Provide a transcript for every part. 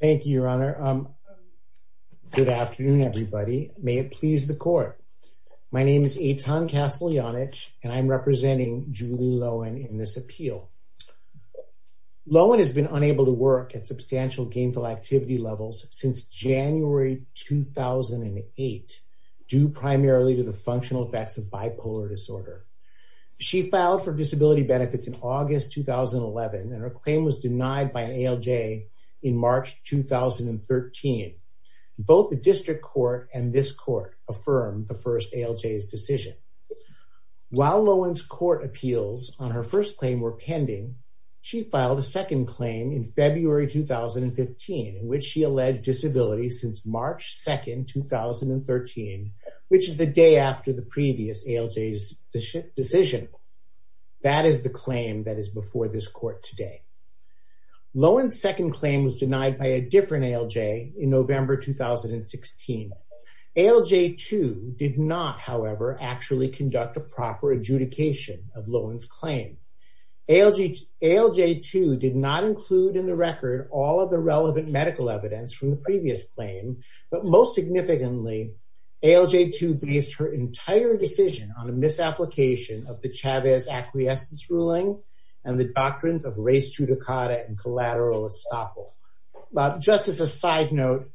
Thank you, Your Honor. Good afternoon, everybody. May it please the Court. My name is Eitan Kasteljanich, and I'm representing Julie Loewen in this appeal. Loewen has been unable to work at substantial gainful activity levels since January 2008, due primarily to the functional effects of bipolar disorder. She filed for disability benefits in August 2011, and her first ALJ in March 2013. Both the District Court and this Court affirmed the first ALJ's decision. While Loewen's court appeals on her first claim were pending, she filed a second claim in February 2015, in which she alleged disability since March 2nd, 2013, which is the day after the previous ALJ's decision. That is the claim that is before this Court today. Loewen's second claim was denied by a different ALJ in November 2016. ALJ2 did not, however, actually conduct a proper adjudication of Loewen's claim. ALJ2 did not include in the record all of the relevant medical evidence from the previous claim, but most significantly, ALJ2 based her entire decision on a misapplication of the Chavez acquiescence ruling and the doctrines of res judicata and collateral estoppel. Just as a side note,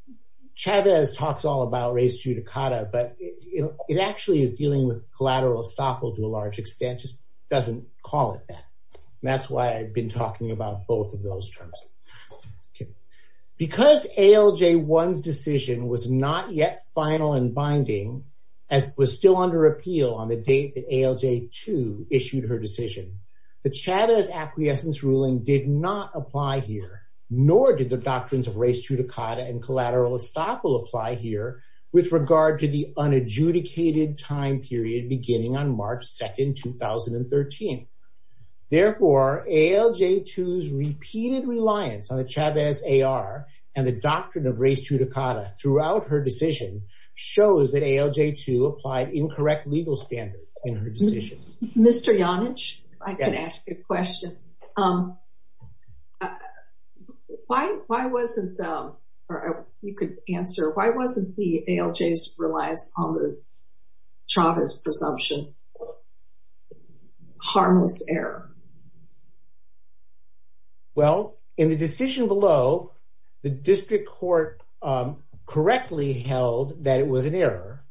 Chavez talks all about res judicata, but it actually is dealing with collateral estoppel to a large extent, just doesn't call it that. That's why I've been talking about both of those terms. Because ALJ1's decision was not yet final and binding, was still under appeal on the date that ALJ2 issued her decision. The Chavez acquiescence ruling did not apply here, nor did the doctrines of res judicata and collateral estoppel apply here with regard to the unadjudicated time period beginning on March 2nd, 2013. Therefore, ALJ2's repeated reliance on the Chavez AR and the doctrine of res judicata throughout her decision, ALJ2 applied incorrect legal standards in her decision. Mr. Yonage, if I could ask you a question. Why wasn't, or if you could answer, why wasn't the ALJ's reliance on the Chavez presumption harmless error? Well, in the decision below, the district court correctly held that it was an error,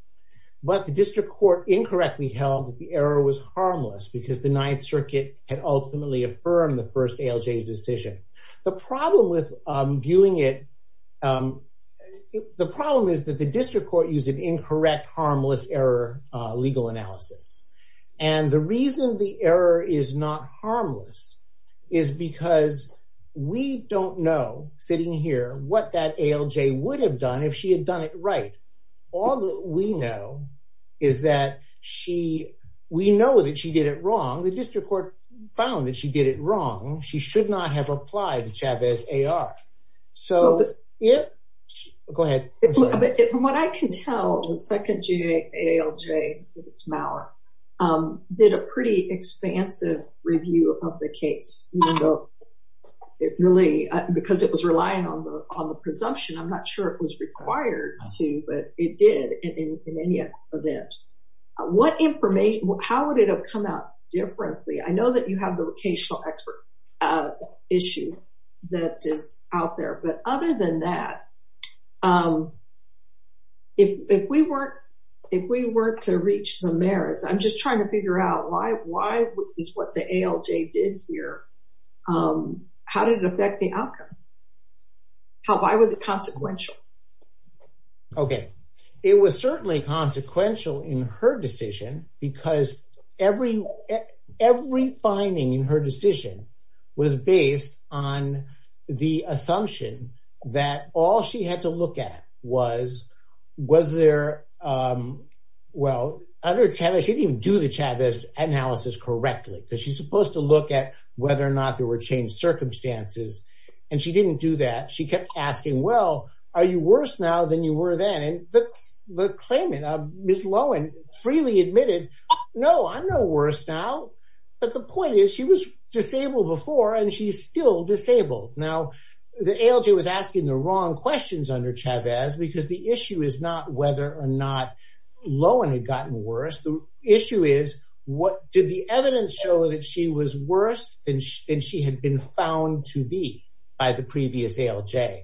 but the district court incorrectly held that the error was harmless because the Ninth Circuit had ultimately affirmed the first ALJ's decision. The problem with viewing it, the problem is that the district court used an incorrect, harmless error legal analysis. And the reason the error is not harmless is because we don't know, sitting here, what that ALJ would have done if she had done it right. All that we know is that she, we know that she did it wrong. The district court found that she did it wrong. She should not have applied the Chavez AR. So if, go ahead. From what I can tell, the second ALJ, if it's Maller, did a pretty expansive review of the case, even though it really, because it was relying on the presumption, I'm not sure it was required to, but it did in any event. What information, how would it have come out differently? I know that you have the vocational expert issue that is out there, but other than that, if we weren't, if we weren't to reach the merits, I'm just trying to figure out why, why is what the ALJ did here, how did it affect the outcome? How, why was it consequential? Okay. It was certainly consequential in her decision because every, every finding in her that all she had to look at was, was there, well, under Chavez, she didn't even do the Chavez analysis correctly because she's supposed to look at whether or not there were changed circumstances. And she didn't do that. She kept asking, well, are you worse now than you were then? And the claimant, Ms. Lowen, freely admitted, no, I'm no worse now. But the point is she was disabled before and she's still disabled. Now the ALJ was asking the wrong questions under Chavez because the issue is not whether or not Lowen had gotten worse. The issue is what did the evidence show that she was worse than she had been found to be by the previous ALJ.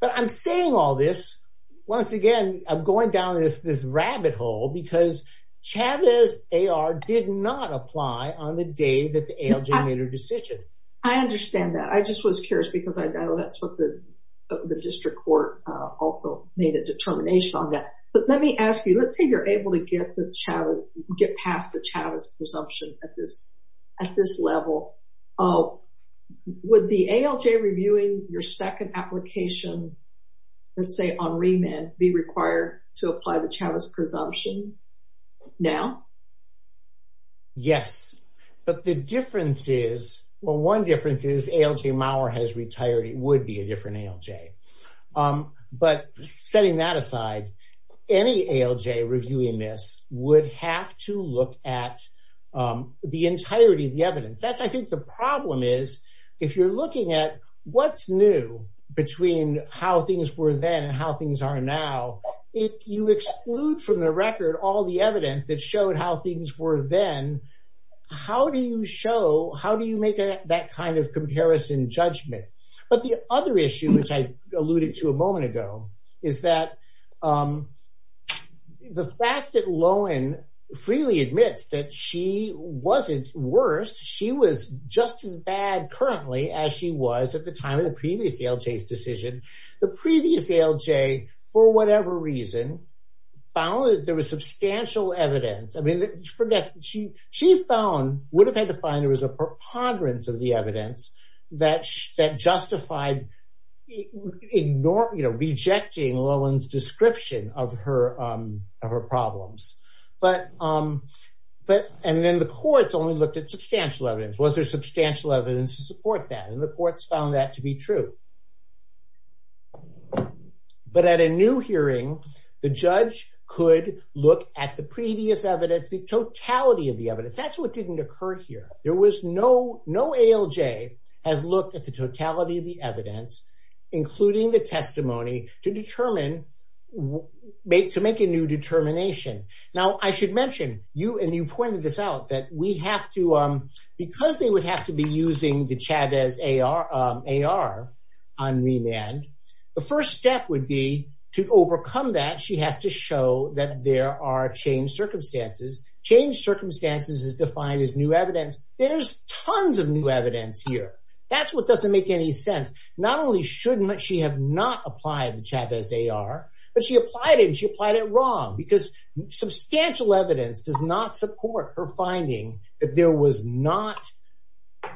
But I'm saying all this, once again, I'm going down this, this rabbit hole because Chavez AR did not apply on the day that the ALJ made her decision. I understand that. I just was curious because I know that's what the, the district court also made a determination on that. But let me ask you, let's say you're able to get the Chavez, get past the Chavez presumption at this, at this level. Oh, would the ALJ reviewing your second application, let's say on remand, be required to apply the Chavez presumption now? Yes. But the difference is, well, one difference is ALJ Mauer has retired. It would be a different ALJ. But setting that aside, any ALJ reviewing this would have to look at the entirety of the evidence. That's, I think the problem is if you're looking at what's new between how things were then and how things are now, if you exclude from the record all the evidence that showed how things were then, how do you show, how do you make that kind of comparison judgment? But the other issue, which I alluded to a moment ago, is that the fact that Lohan freely admits that she wasn't worse, she was just as bad currently as she was at the time of the previous ALJ's decision. The previous ALJ, for substantial evidence, I mean, she found, would have had to find there was a preponderance of the evidence that justified, you know, rejecting Lohan's description of her, of her problems. But, and then the courts only looked at substantial evidence. Was there substantial evidence to support that? And the courts found that to be true. But at a new look at the previous evidence, the totality of the evidence, that's what didn't occur here. There was no, no ALJ has looked at the totality of the evidence, including the testimony to determine, to make a new determination. Now, I should mention, you and you pointed this out that we have to, because they would have to be using the Chavez AR on remand, the first step would be to overcome that. She has to show that there are changed circumstances. Changed circumstances is defined as new evidence. There's tons of new evidence here. That's what doesn't make any sense. Not only should she have not applied the Chavez AR, but she applied it and she applied it wrong, because substantial evidence does not support her finding that there was not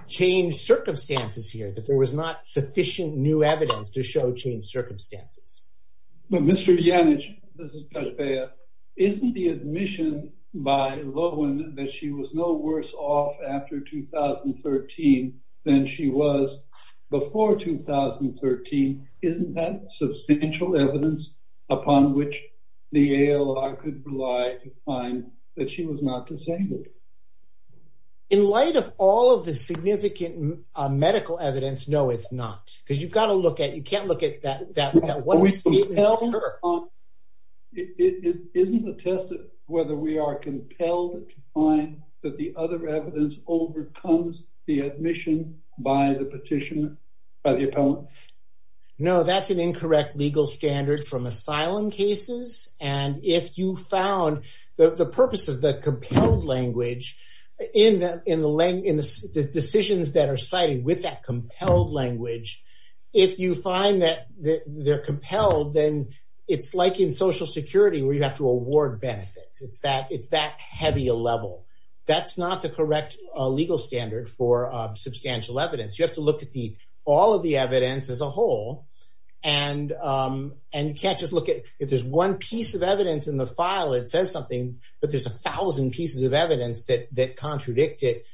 changed circumstances here, that there was not sufficient new evidence to show changed circumstances. But Mr. Janich, this is Kajpea, isn't the admission by Lohan that she was no worse off after 2013 than she was before 2013, isn't that substantial evidence upon which the ALR could rely to find that she was not disabled? In light of all of the significant medical evidence, no, it's not. Because you've got to look at, you can't look at that one statement of her. Isn't it a test of whether we are compelled to find that the other evidence overcomes the admission by the petitioner, by the appellant? No, that's an incorrect legal standard from asylum cases. And if you found the purpose of the compelled language in the decisions that are cited with that compelled language, if you find that they're compelled, then it's like in Social Security where you have to award benefits. It's that heavy a level. That's not the correct legal standard for substantial evidence. You have to look at all of the evidence as a whole. And you can't just look at, if there's one piece of evidence in the file, it says something, but there's a thousand pieces of evidence that contradict it.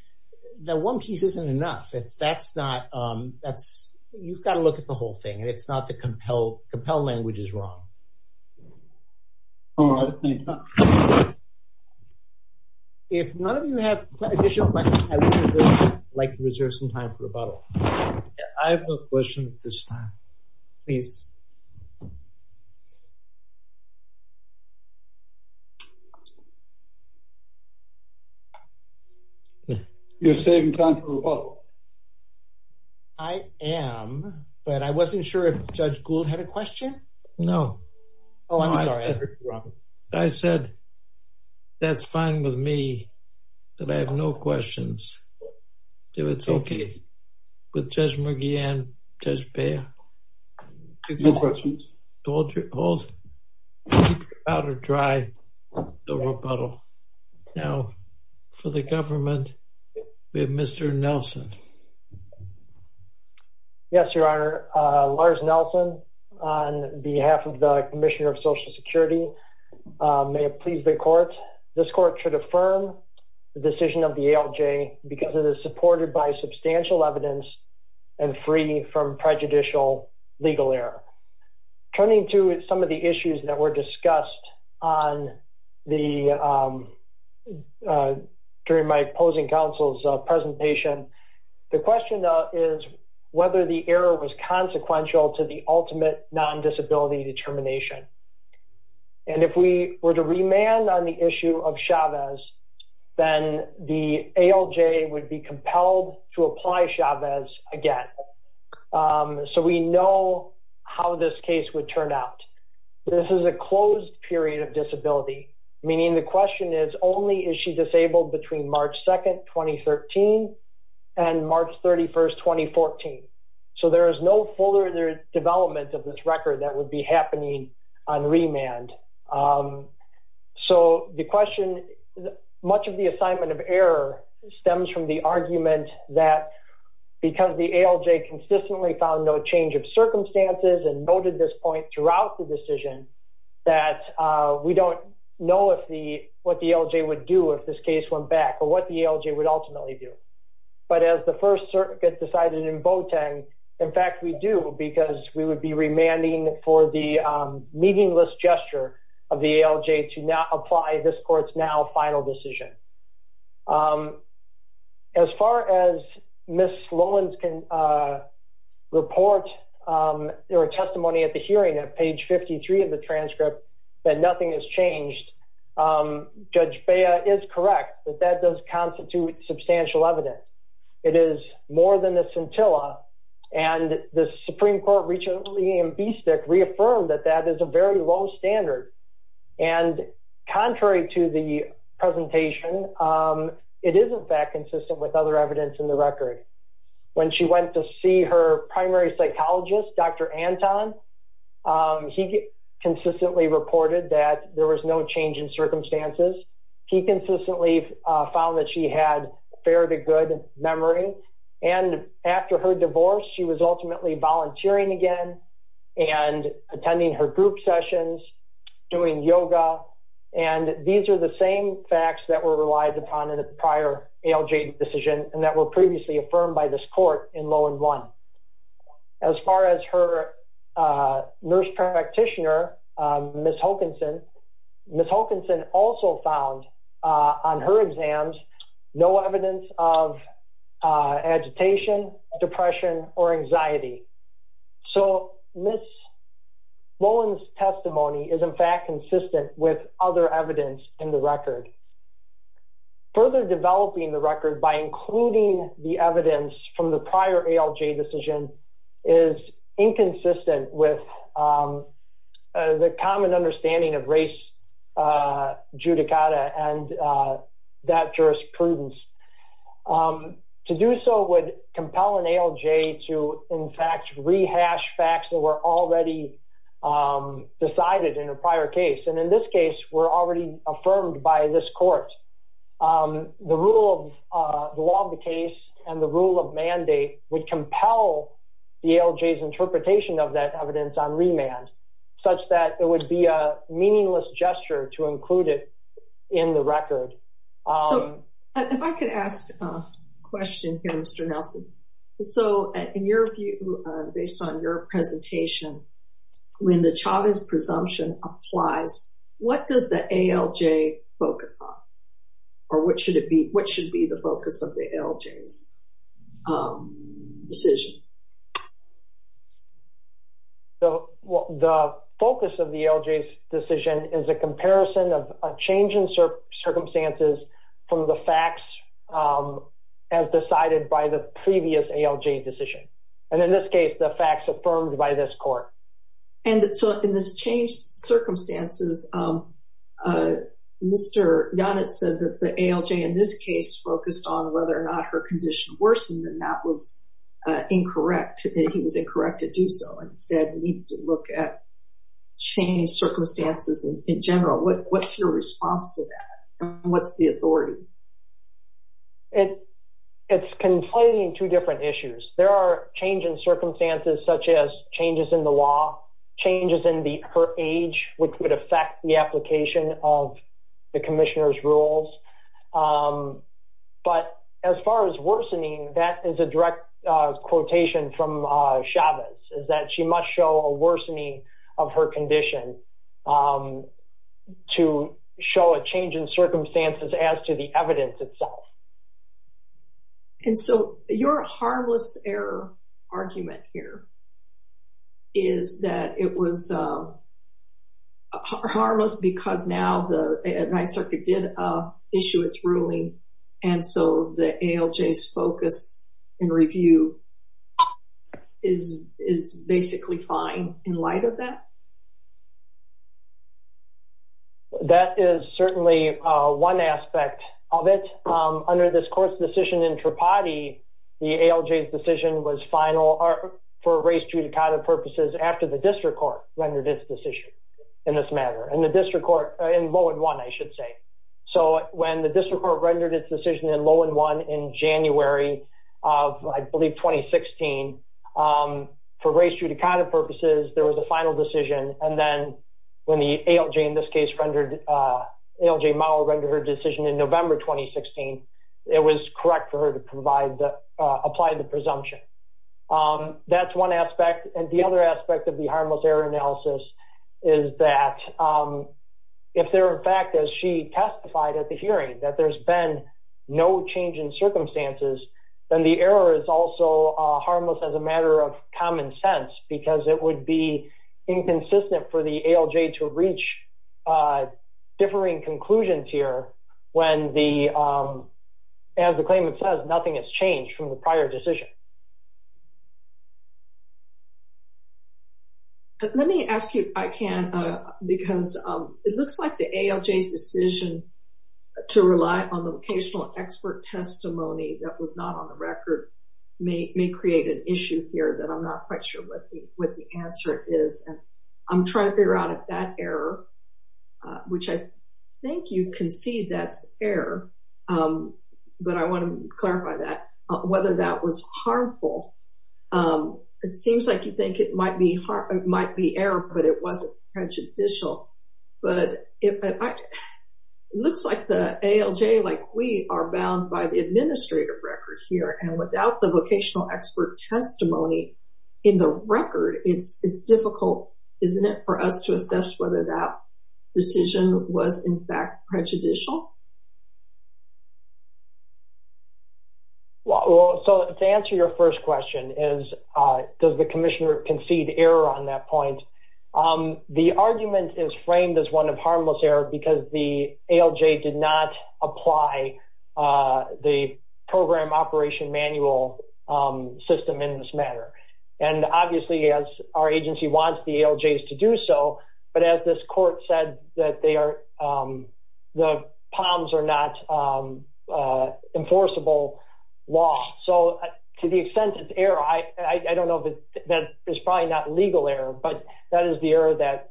That one piece isn't enough. That's not, that's, you've got to look at the whole thing. And it's not the compelled, compelled language is wrong. All right, thank you. If none of you have additional questions, I would like to reserve some time for rebuttal. I have no questions at this time. Please. You're saving time for rebuttal. I am, but I wasn't sure if Judge Gould had a question. No. Oh, I'm sorry. I heard you, Robert. I said, that's fine with me, that I have no questions. If it's okay with Judge McGeehan, Judge Beyer? No questions. Hold. Keep your powder dry for rebuttal. Now, for the government, we have Mr. Nelson. Yes, Your Honor. Lars Nelson on behalf of the Commissioner of Social Security. May it please the court. This court should affirm the decision of the ALJ because it is supported by substantial evidence and free from prejudicial legal error. Turning to some of the issues that were discussed during my opposing counsel's presentation, the question is whether the error was consequential to the ultimate non-disability determination. And if we were to remand on the issue of Chavez, then the ALJ would be compelled to apply Chavez again. So we know how this case would turn out. This is a closed period of disability, meaning the question is, only is she disabled between March 2nd, 2013 and March 31st, 2014. So there is no further development of this record that would be happening on remand. So the question, much of the assignment of error stems from the argument that because the ALJ consistently found no change of circumstances and noted this point throughout the decision, that we don't know what the ALJ would do if this case went back or what the ALJ would ultimately do. But as the First Circuit decided in Boateng, in fact, we do because we would be remanding for the meaningless gesture of the ALJ to not apply this court's now final decision. As far as Ms. Lowen's report or testimony at the hearing at page 53 of the transcript, that nothing has changed. Judge Bea is correct that that does constitute substantial evidence. It is more than a scintilla. And the Supreme Court recently in BSTC reaffirmed that that is a very low standard. And contrary to the presentation, it is in fact consistent with other evidence in the record. When she went to see her primary psychologist, Dr. Anton, he consistently reported that there was no change in circumstances. He consistently found that she had fair to good memory. And after her divorce, she was ultimately volunteering again and attending her group sessions, doing yoga. And these are the same facts that were relied upon in the prior ALJ decision and that were previously affirmed by this court in Lowen 1. As far as her nurse practitioner, Ms. Hokanson, Ms. Hokanson also found on her exams no evidence of agitation, depression, or anxiety. So Ms. Lowen's testimony is in fact consistent with other evidence in the record. Further developing the record by including the evidence from the prior ALJ decision is inconsistent with the common understanding of race judicata and that jurisprudence. To do so would compel an ALJ to in fact rehash facts that were already decided in a prior case. And in this case were already affirmed by this court. The rule of the law of the case and the rule of mandate would compel the ALJ's interpretation of that in the record. If I could ask a question here, Mr. Nelson. So in your view, based on your presentation, when the Chavez presumption applies, what does the ALJ focus on? Or what should be the focus of the ALJ's decision? The focus of the ALJ's decision is a comparison of a change in circumstances from the facts as decided by the previous ALJ decision. And in this case, the facts affirmed by this court. And so in this changed circumstances, Mr. Donitz said that the ALJ in this case focused on whether or not her condition worsened. And that was incorrect. He was incorrect to do so. Instead, he needed to look at changed circumstances in general. What's your response to that? And what's the authority? It's conflating two different issues. There are change in circumstances such as changes in the law, changes in her age, which would affect the application of the commissioner's decision. But as far as worsening, that is a direct quotation from Chavez, is that she must show a worsening of her condition to show a change in circumstances as to the evidence itself. And so your harmless error argument here is that it was harmless because now the Ninth Circuit is ruling. And so the ALJ's focus and review is basically fine in light of that. That is certainly one aspect of it. Under this court's decision in Tripathi, the ALJ's decision was final for race judicata purposes after the district court rendered its decision in this matter. In Lowen 1, I should say. So when the district court rendered its decision in Lowen 1 in January of, I believe, 2016, for race judicata purposes, there was a final decision. And then when the ALJ, in this case, rendered her decision in November 2016, it was correct for her to apply the presumption. That's one aspect. And the other aspect of the harmless error analysis is that if there, in fact, as she testified at the hearing, that there's been no change in circumstances, then the error is also harmless as a matter of common sense because it would be inconsistent for the ALJ to reach differing conclusions here when, as the claimant says, nothing has changed from the prior decision. Let me ask you, Ikan, because it looks like the ALJ's decision to rely on the vocational expert testimony that was not on the record may create an issue here that I'm not quite sure what the answer is. And I'm trying to figure out if that error, which I think you can see that's error, but I want to clarify that, whether that was harmful. It seems like you think it might be error, but it wasn't prejudicial. But it looks like the ALJ, like we, are bound by the administrative record here. And without the vocational expert testimony in the record, it's difficult, isn't it, for us to assess whether that decision was, in fact, prejudicial? Well, so to answer your first question is, does the commissioner concede error on that point? The argument is framed as one of harmless error because the ALJ did not apply the program operation manual system in this matter. And obviously, as our agency wants the ALJs to do so, but as this court said that they are, the POMs are not enforceable law. So to the extent it's error, I don't know if that is probably not legal error, but that is the error that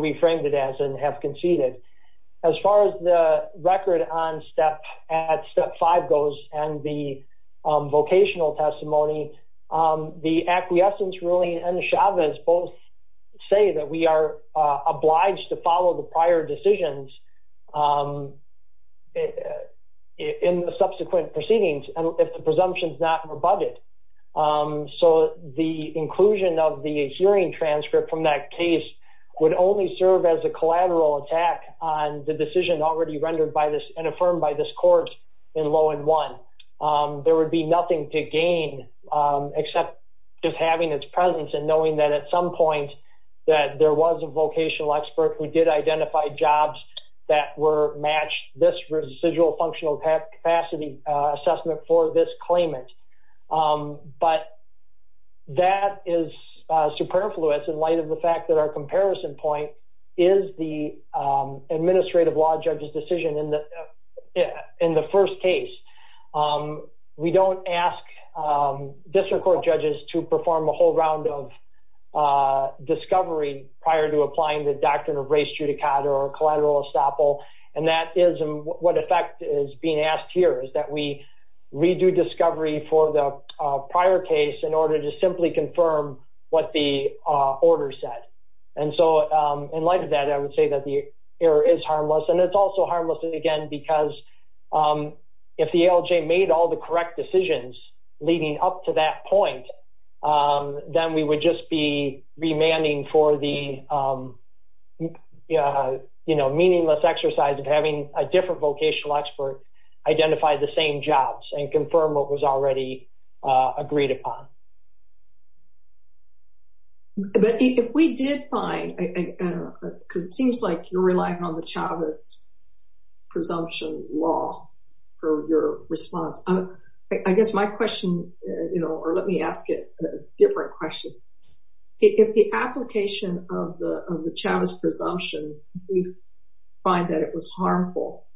we framed it as and have conceded. As far as the record on step, at step five goes and the vocational testimony, the acquiescence ruling and the Chavez both say that we are obliged to follow the prior decisions in the subsequent proceedings if the presumption is not rebutted. So the inclusion of the hearing transcript from that case would only serve as a collateral attack on the decision already rendered by this and affirmed by this court in law in one. There would be nothing to gain except just having its presence and knowing that at some point that there was a vocational expert who did identify jobs that were matched this residual functional capacity assessment for this claimant. But that is superfluous in light of the fact that our comparison point is the administrative law judge's decision in the first case. We don't ask district court judges to perform a whole round of discovery prior to applying the doctrine of race judicata or collateral estoppel. And that is what effect is being asked here is that we redo discovery for the prior case in order to simply confirm what the order said. And so in light of that, I would say that the error is harmless. And it's also harmless again because if the ALJ made all the correct decisions leading up to that point, then we would just be remanding for the, you know, meaningless exercise of having a different vocational expert identify the same jobs and presumption law for your response. I guess my question, you know, or let me ask it a different question. If the application of the Chavez presumption, we find that it was harmful,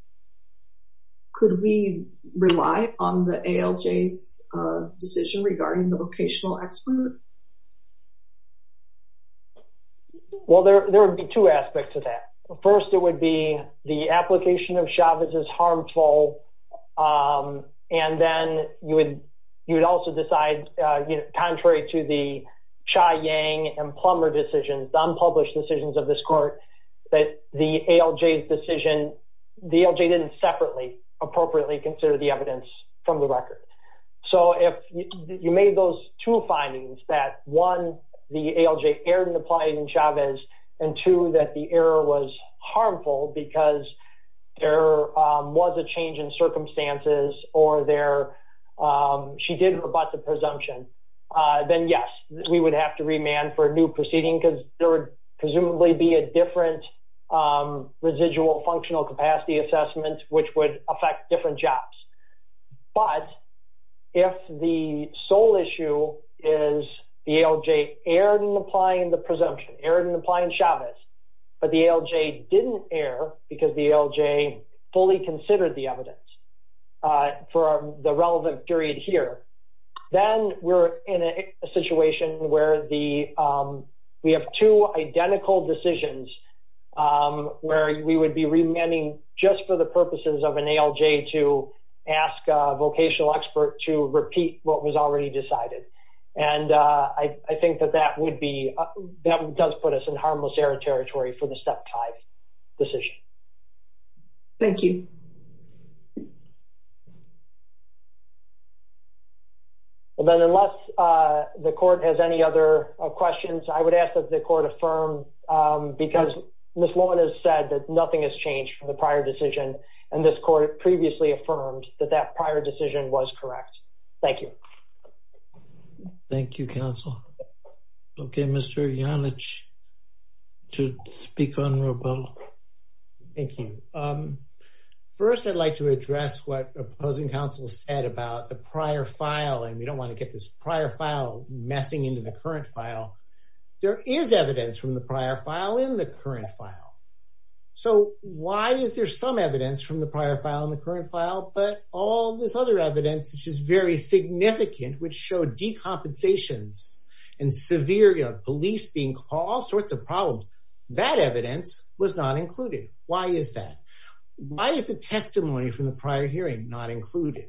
could we rely on the ALJ's decision regarding the vocational expert? Well, there would be two aspects to that. First, it would be the application of Chavez's harmful. And then you would also decide, you know, contrary to the Xia Yang and Plummer decisions, unpublished decisions of this court, that the ALJ's decision, the ALJ didn't separately appropriately consider the evidence from the record. So if you made those two findings, that one, the ALJ erred in applying Chavez, and two, that the error was harmful because there was a change in circumstances or she did rebut the presumption, then yes, we would have to remand for a new proceeding because there would presumably be a different residual functional capacity assessment, which would affect different jobs. But if the sole issue is the ALJ erred in applying the presumption, erred in applying Chavez, but the ALJ didn't err because the ALJ fully considered the evidence for the relevant period here, then we're in a situation where we have two identical decisions where we would be remanding just for the purposes of an ALJ to ask a vocational expert to repeat what was already decided. And I think that that would be, that does put us in harmless error territory for the Step 5 decision. Thank you. Well, then, unless the court has any other questions, I would ask that the court affirm because Ms. Lohmann has said that nothing has changed from the prior decision, and this court previously affirmed that that prior decision was correct. Thank you. Thank you, counsel. Okay, Mr. Janich to speak on rebuttal. Thank you. First, I'd like to address what opposing counsel said about the prior file, and we don't want to get this prior file messing into the current file. There is evidence from the prior file in the current file. So why is there some evidence from the prior file in the current file, but all this other evidence, which is very significant, which showed decompensations and severe, you know, police being called, all sorts of problems, that evidence was not included. Why is that? Why is the testimony from the prior hearing not included?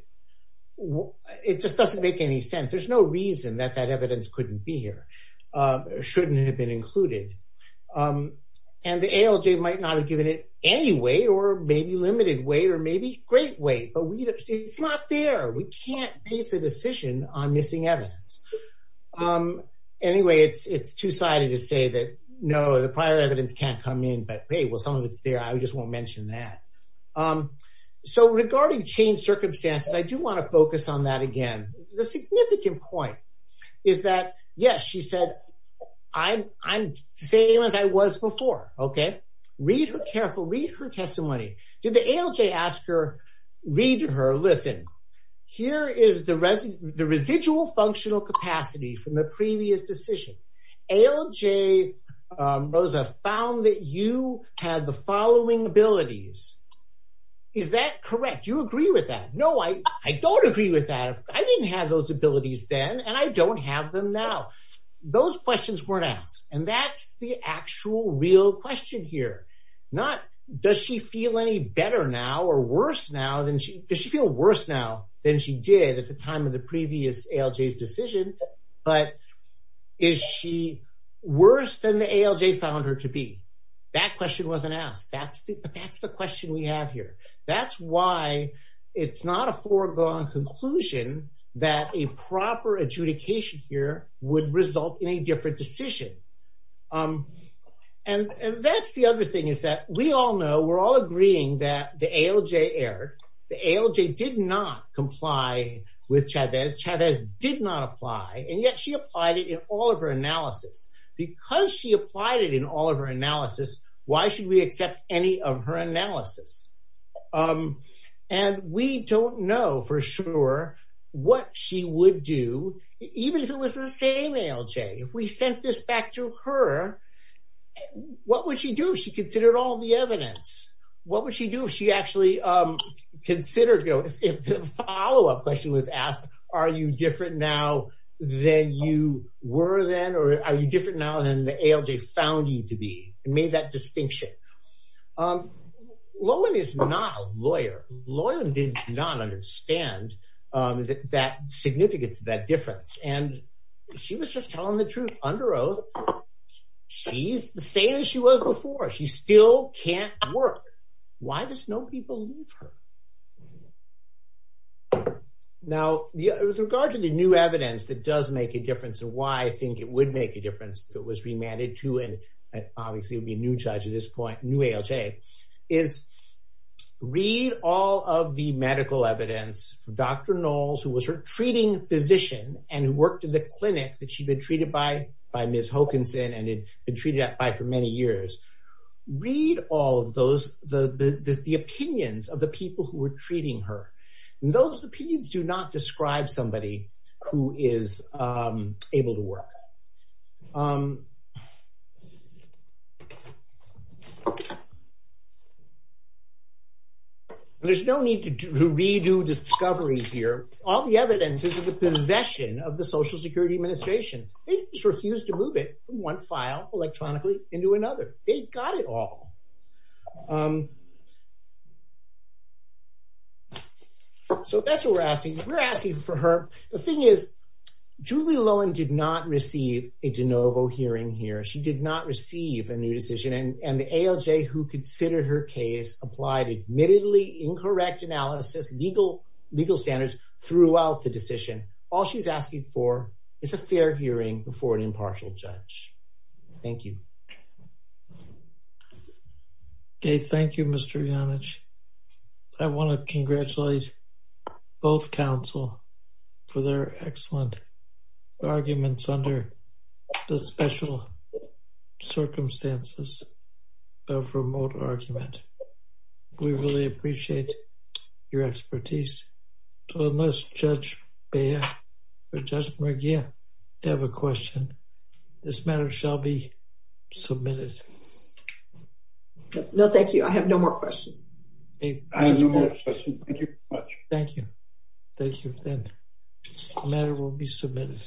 It just doesn't make any sense. There's no reason that that evidence couldn't be here. Shouldn't have been included. And the ALJ might not have given it anyway, or maybe limited weight, or maybe great weight, but it's not there. We can't base a decision on missing evidence. Anyway, it's two-sided to say that, no, the prior evidence can't come in, but hey, well, some of it's there. I just won't mention that. So regarding changed circumstances, I do want to focus on that again. The significant point is that, yes, she said, I'm the same as I was before, okay? Read her carefully, read her testimony. Did the ALJ ask her, read her, listen, here is the residual functional capacity from the previous decision. ALJ, Rosa, found that you have the following abilities. Is that correct? Do you agree with that? No, I don't agree with that. I didn't have those abilities then, and I don't have them now. Those questions weren't asked. And that's the actual real question here. Not, does she feel any better now or worse now than she, does she feel worse now than she did at the time of the previous ALJ's decision, but is she worse than the ALJ found her to be? That question wasn't asked. That's the question we have here. That's why it's not a foregone conclusion that a proper adjudication here would result in a different decision. And that's the other thing is that we all know, we're all agreeing that the ALJ erred. The ALJ did not comply with Chavez. Chavez did not apply, and yet she applied it in all of her analysis. Because she applied it in all of her analysis, why should we accept any of her analysis? And we don't know for sure what she would do, even if it was the same ALJ. If we sent this back to her, what would she do if she considered all the evidence? What would she do if she actually considered, if the follow-up question was asked, are you different now than you were then, or are you different now than the ALJ found you to be, and made that distinction? Lohan is not a lawyer. Lohan did not understand that significance, that difference. And she was just telling the truth under oath. She's the same as she was before. She still can't work. Why does nobody believe her? Now, with regard to the new evidence that does make a difference, and why I think it would make a difference if it was remanded to, and obviously it would be a new judge at this point, a new ALJ, is read all of the medical evidence from Dr. Knowles, who was her treating physician, and who worked in the clinic that she'd been treated by, by for many years, read all of those, the opinions of the people who were treating her. And those opinions do not describe somebody who is able to work. There's no need to redo discovery here. All the evidence is in the possession of the Social Security Administration. They just refused to move it from one file electronically into another. They got it all. So that's what we're asking. We're asking for her. The thing is, Julie Lohan did not receive a de novo hearing here. She did not receive a new decision. And the ALJ who considered her case applied admittedly incorrect analysis, legal standards throughout the decision. All she's asking for is a fair hearing before an impartial judge. Thank you. Okay, thank you, Mr. Janic. I want to congratulate both counsel for their excellent arguments under the special circumstances of remote argument. We really appreciate your expertise. So unless Judge Beyer or Judge McGeer have a question, this matter shall be submitted. No, thank you. I have no more questions. I have no more questions. Thank you very much. Thank you. Thank you. The matter will be submitted.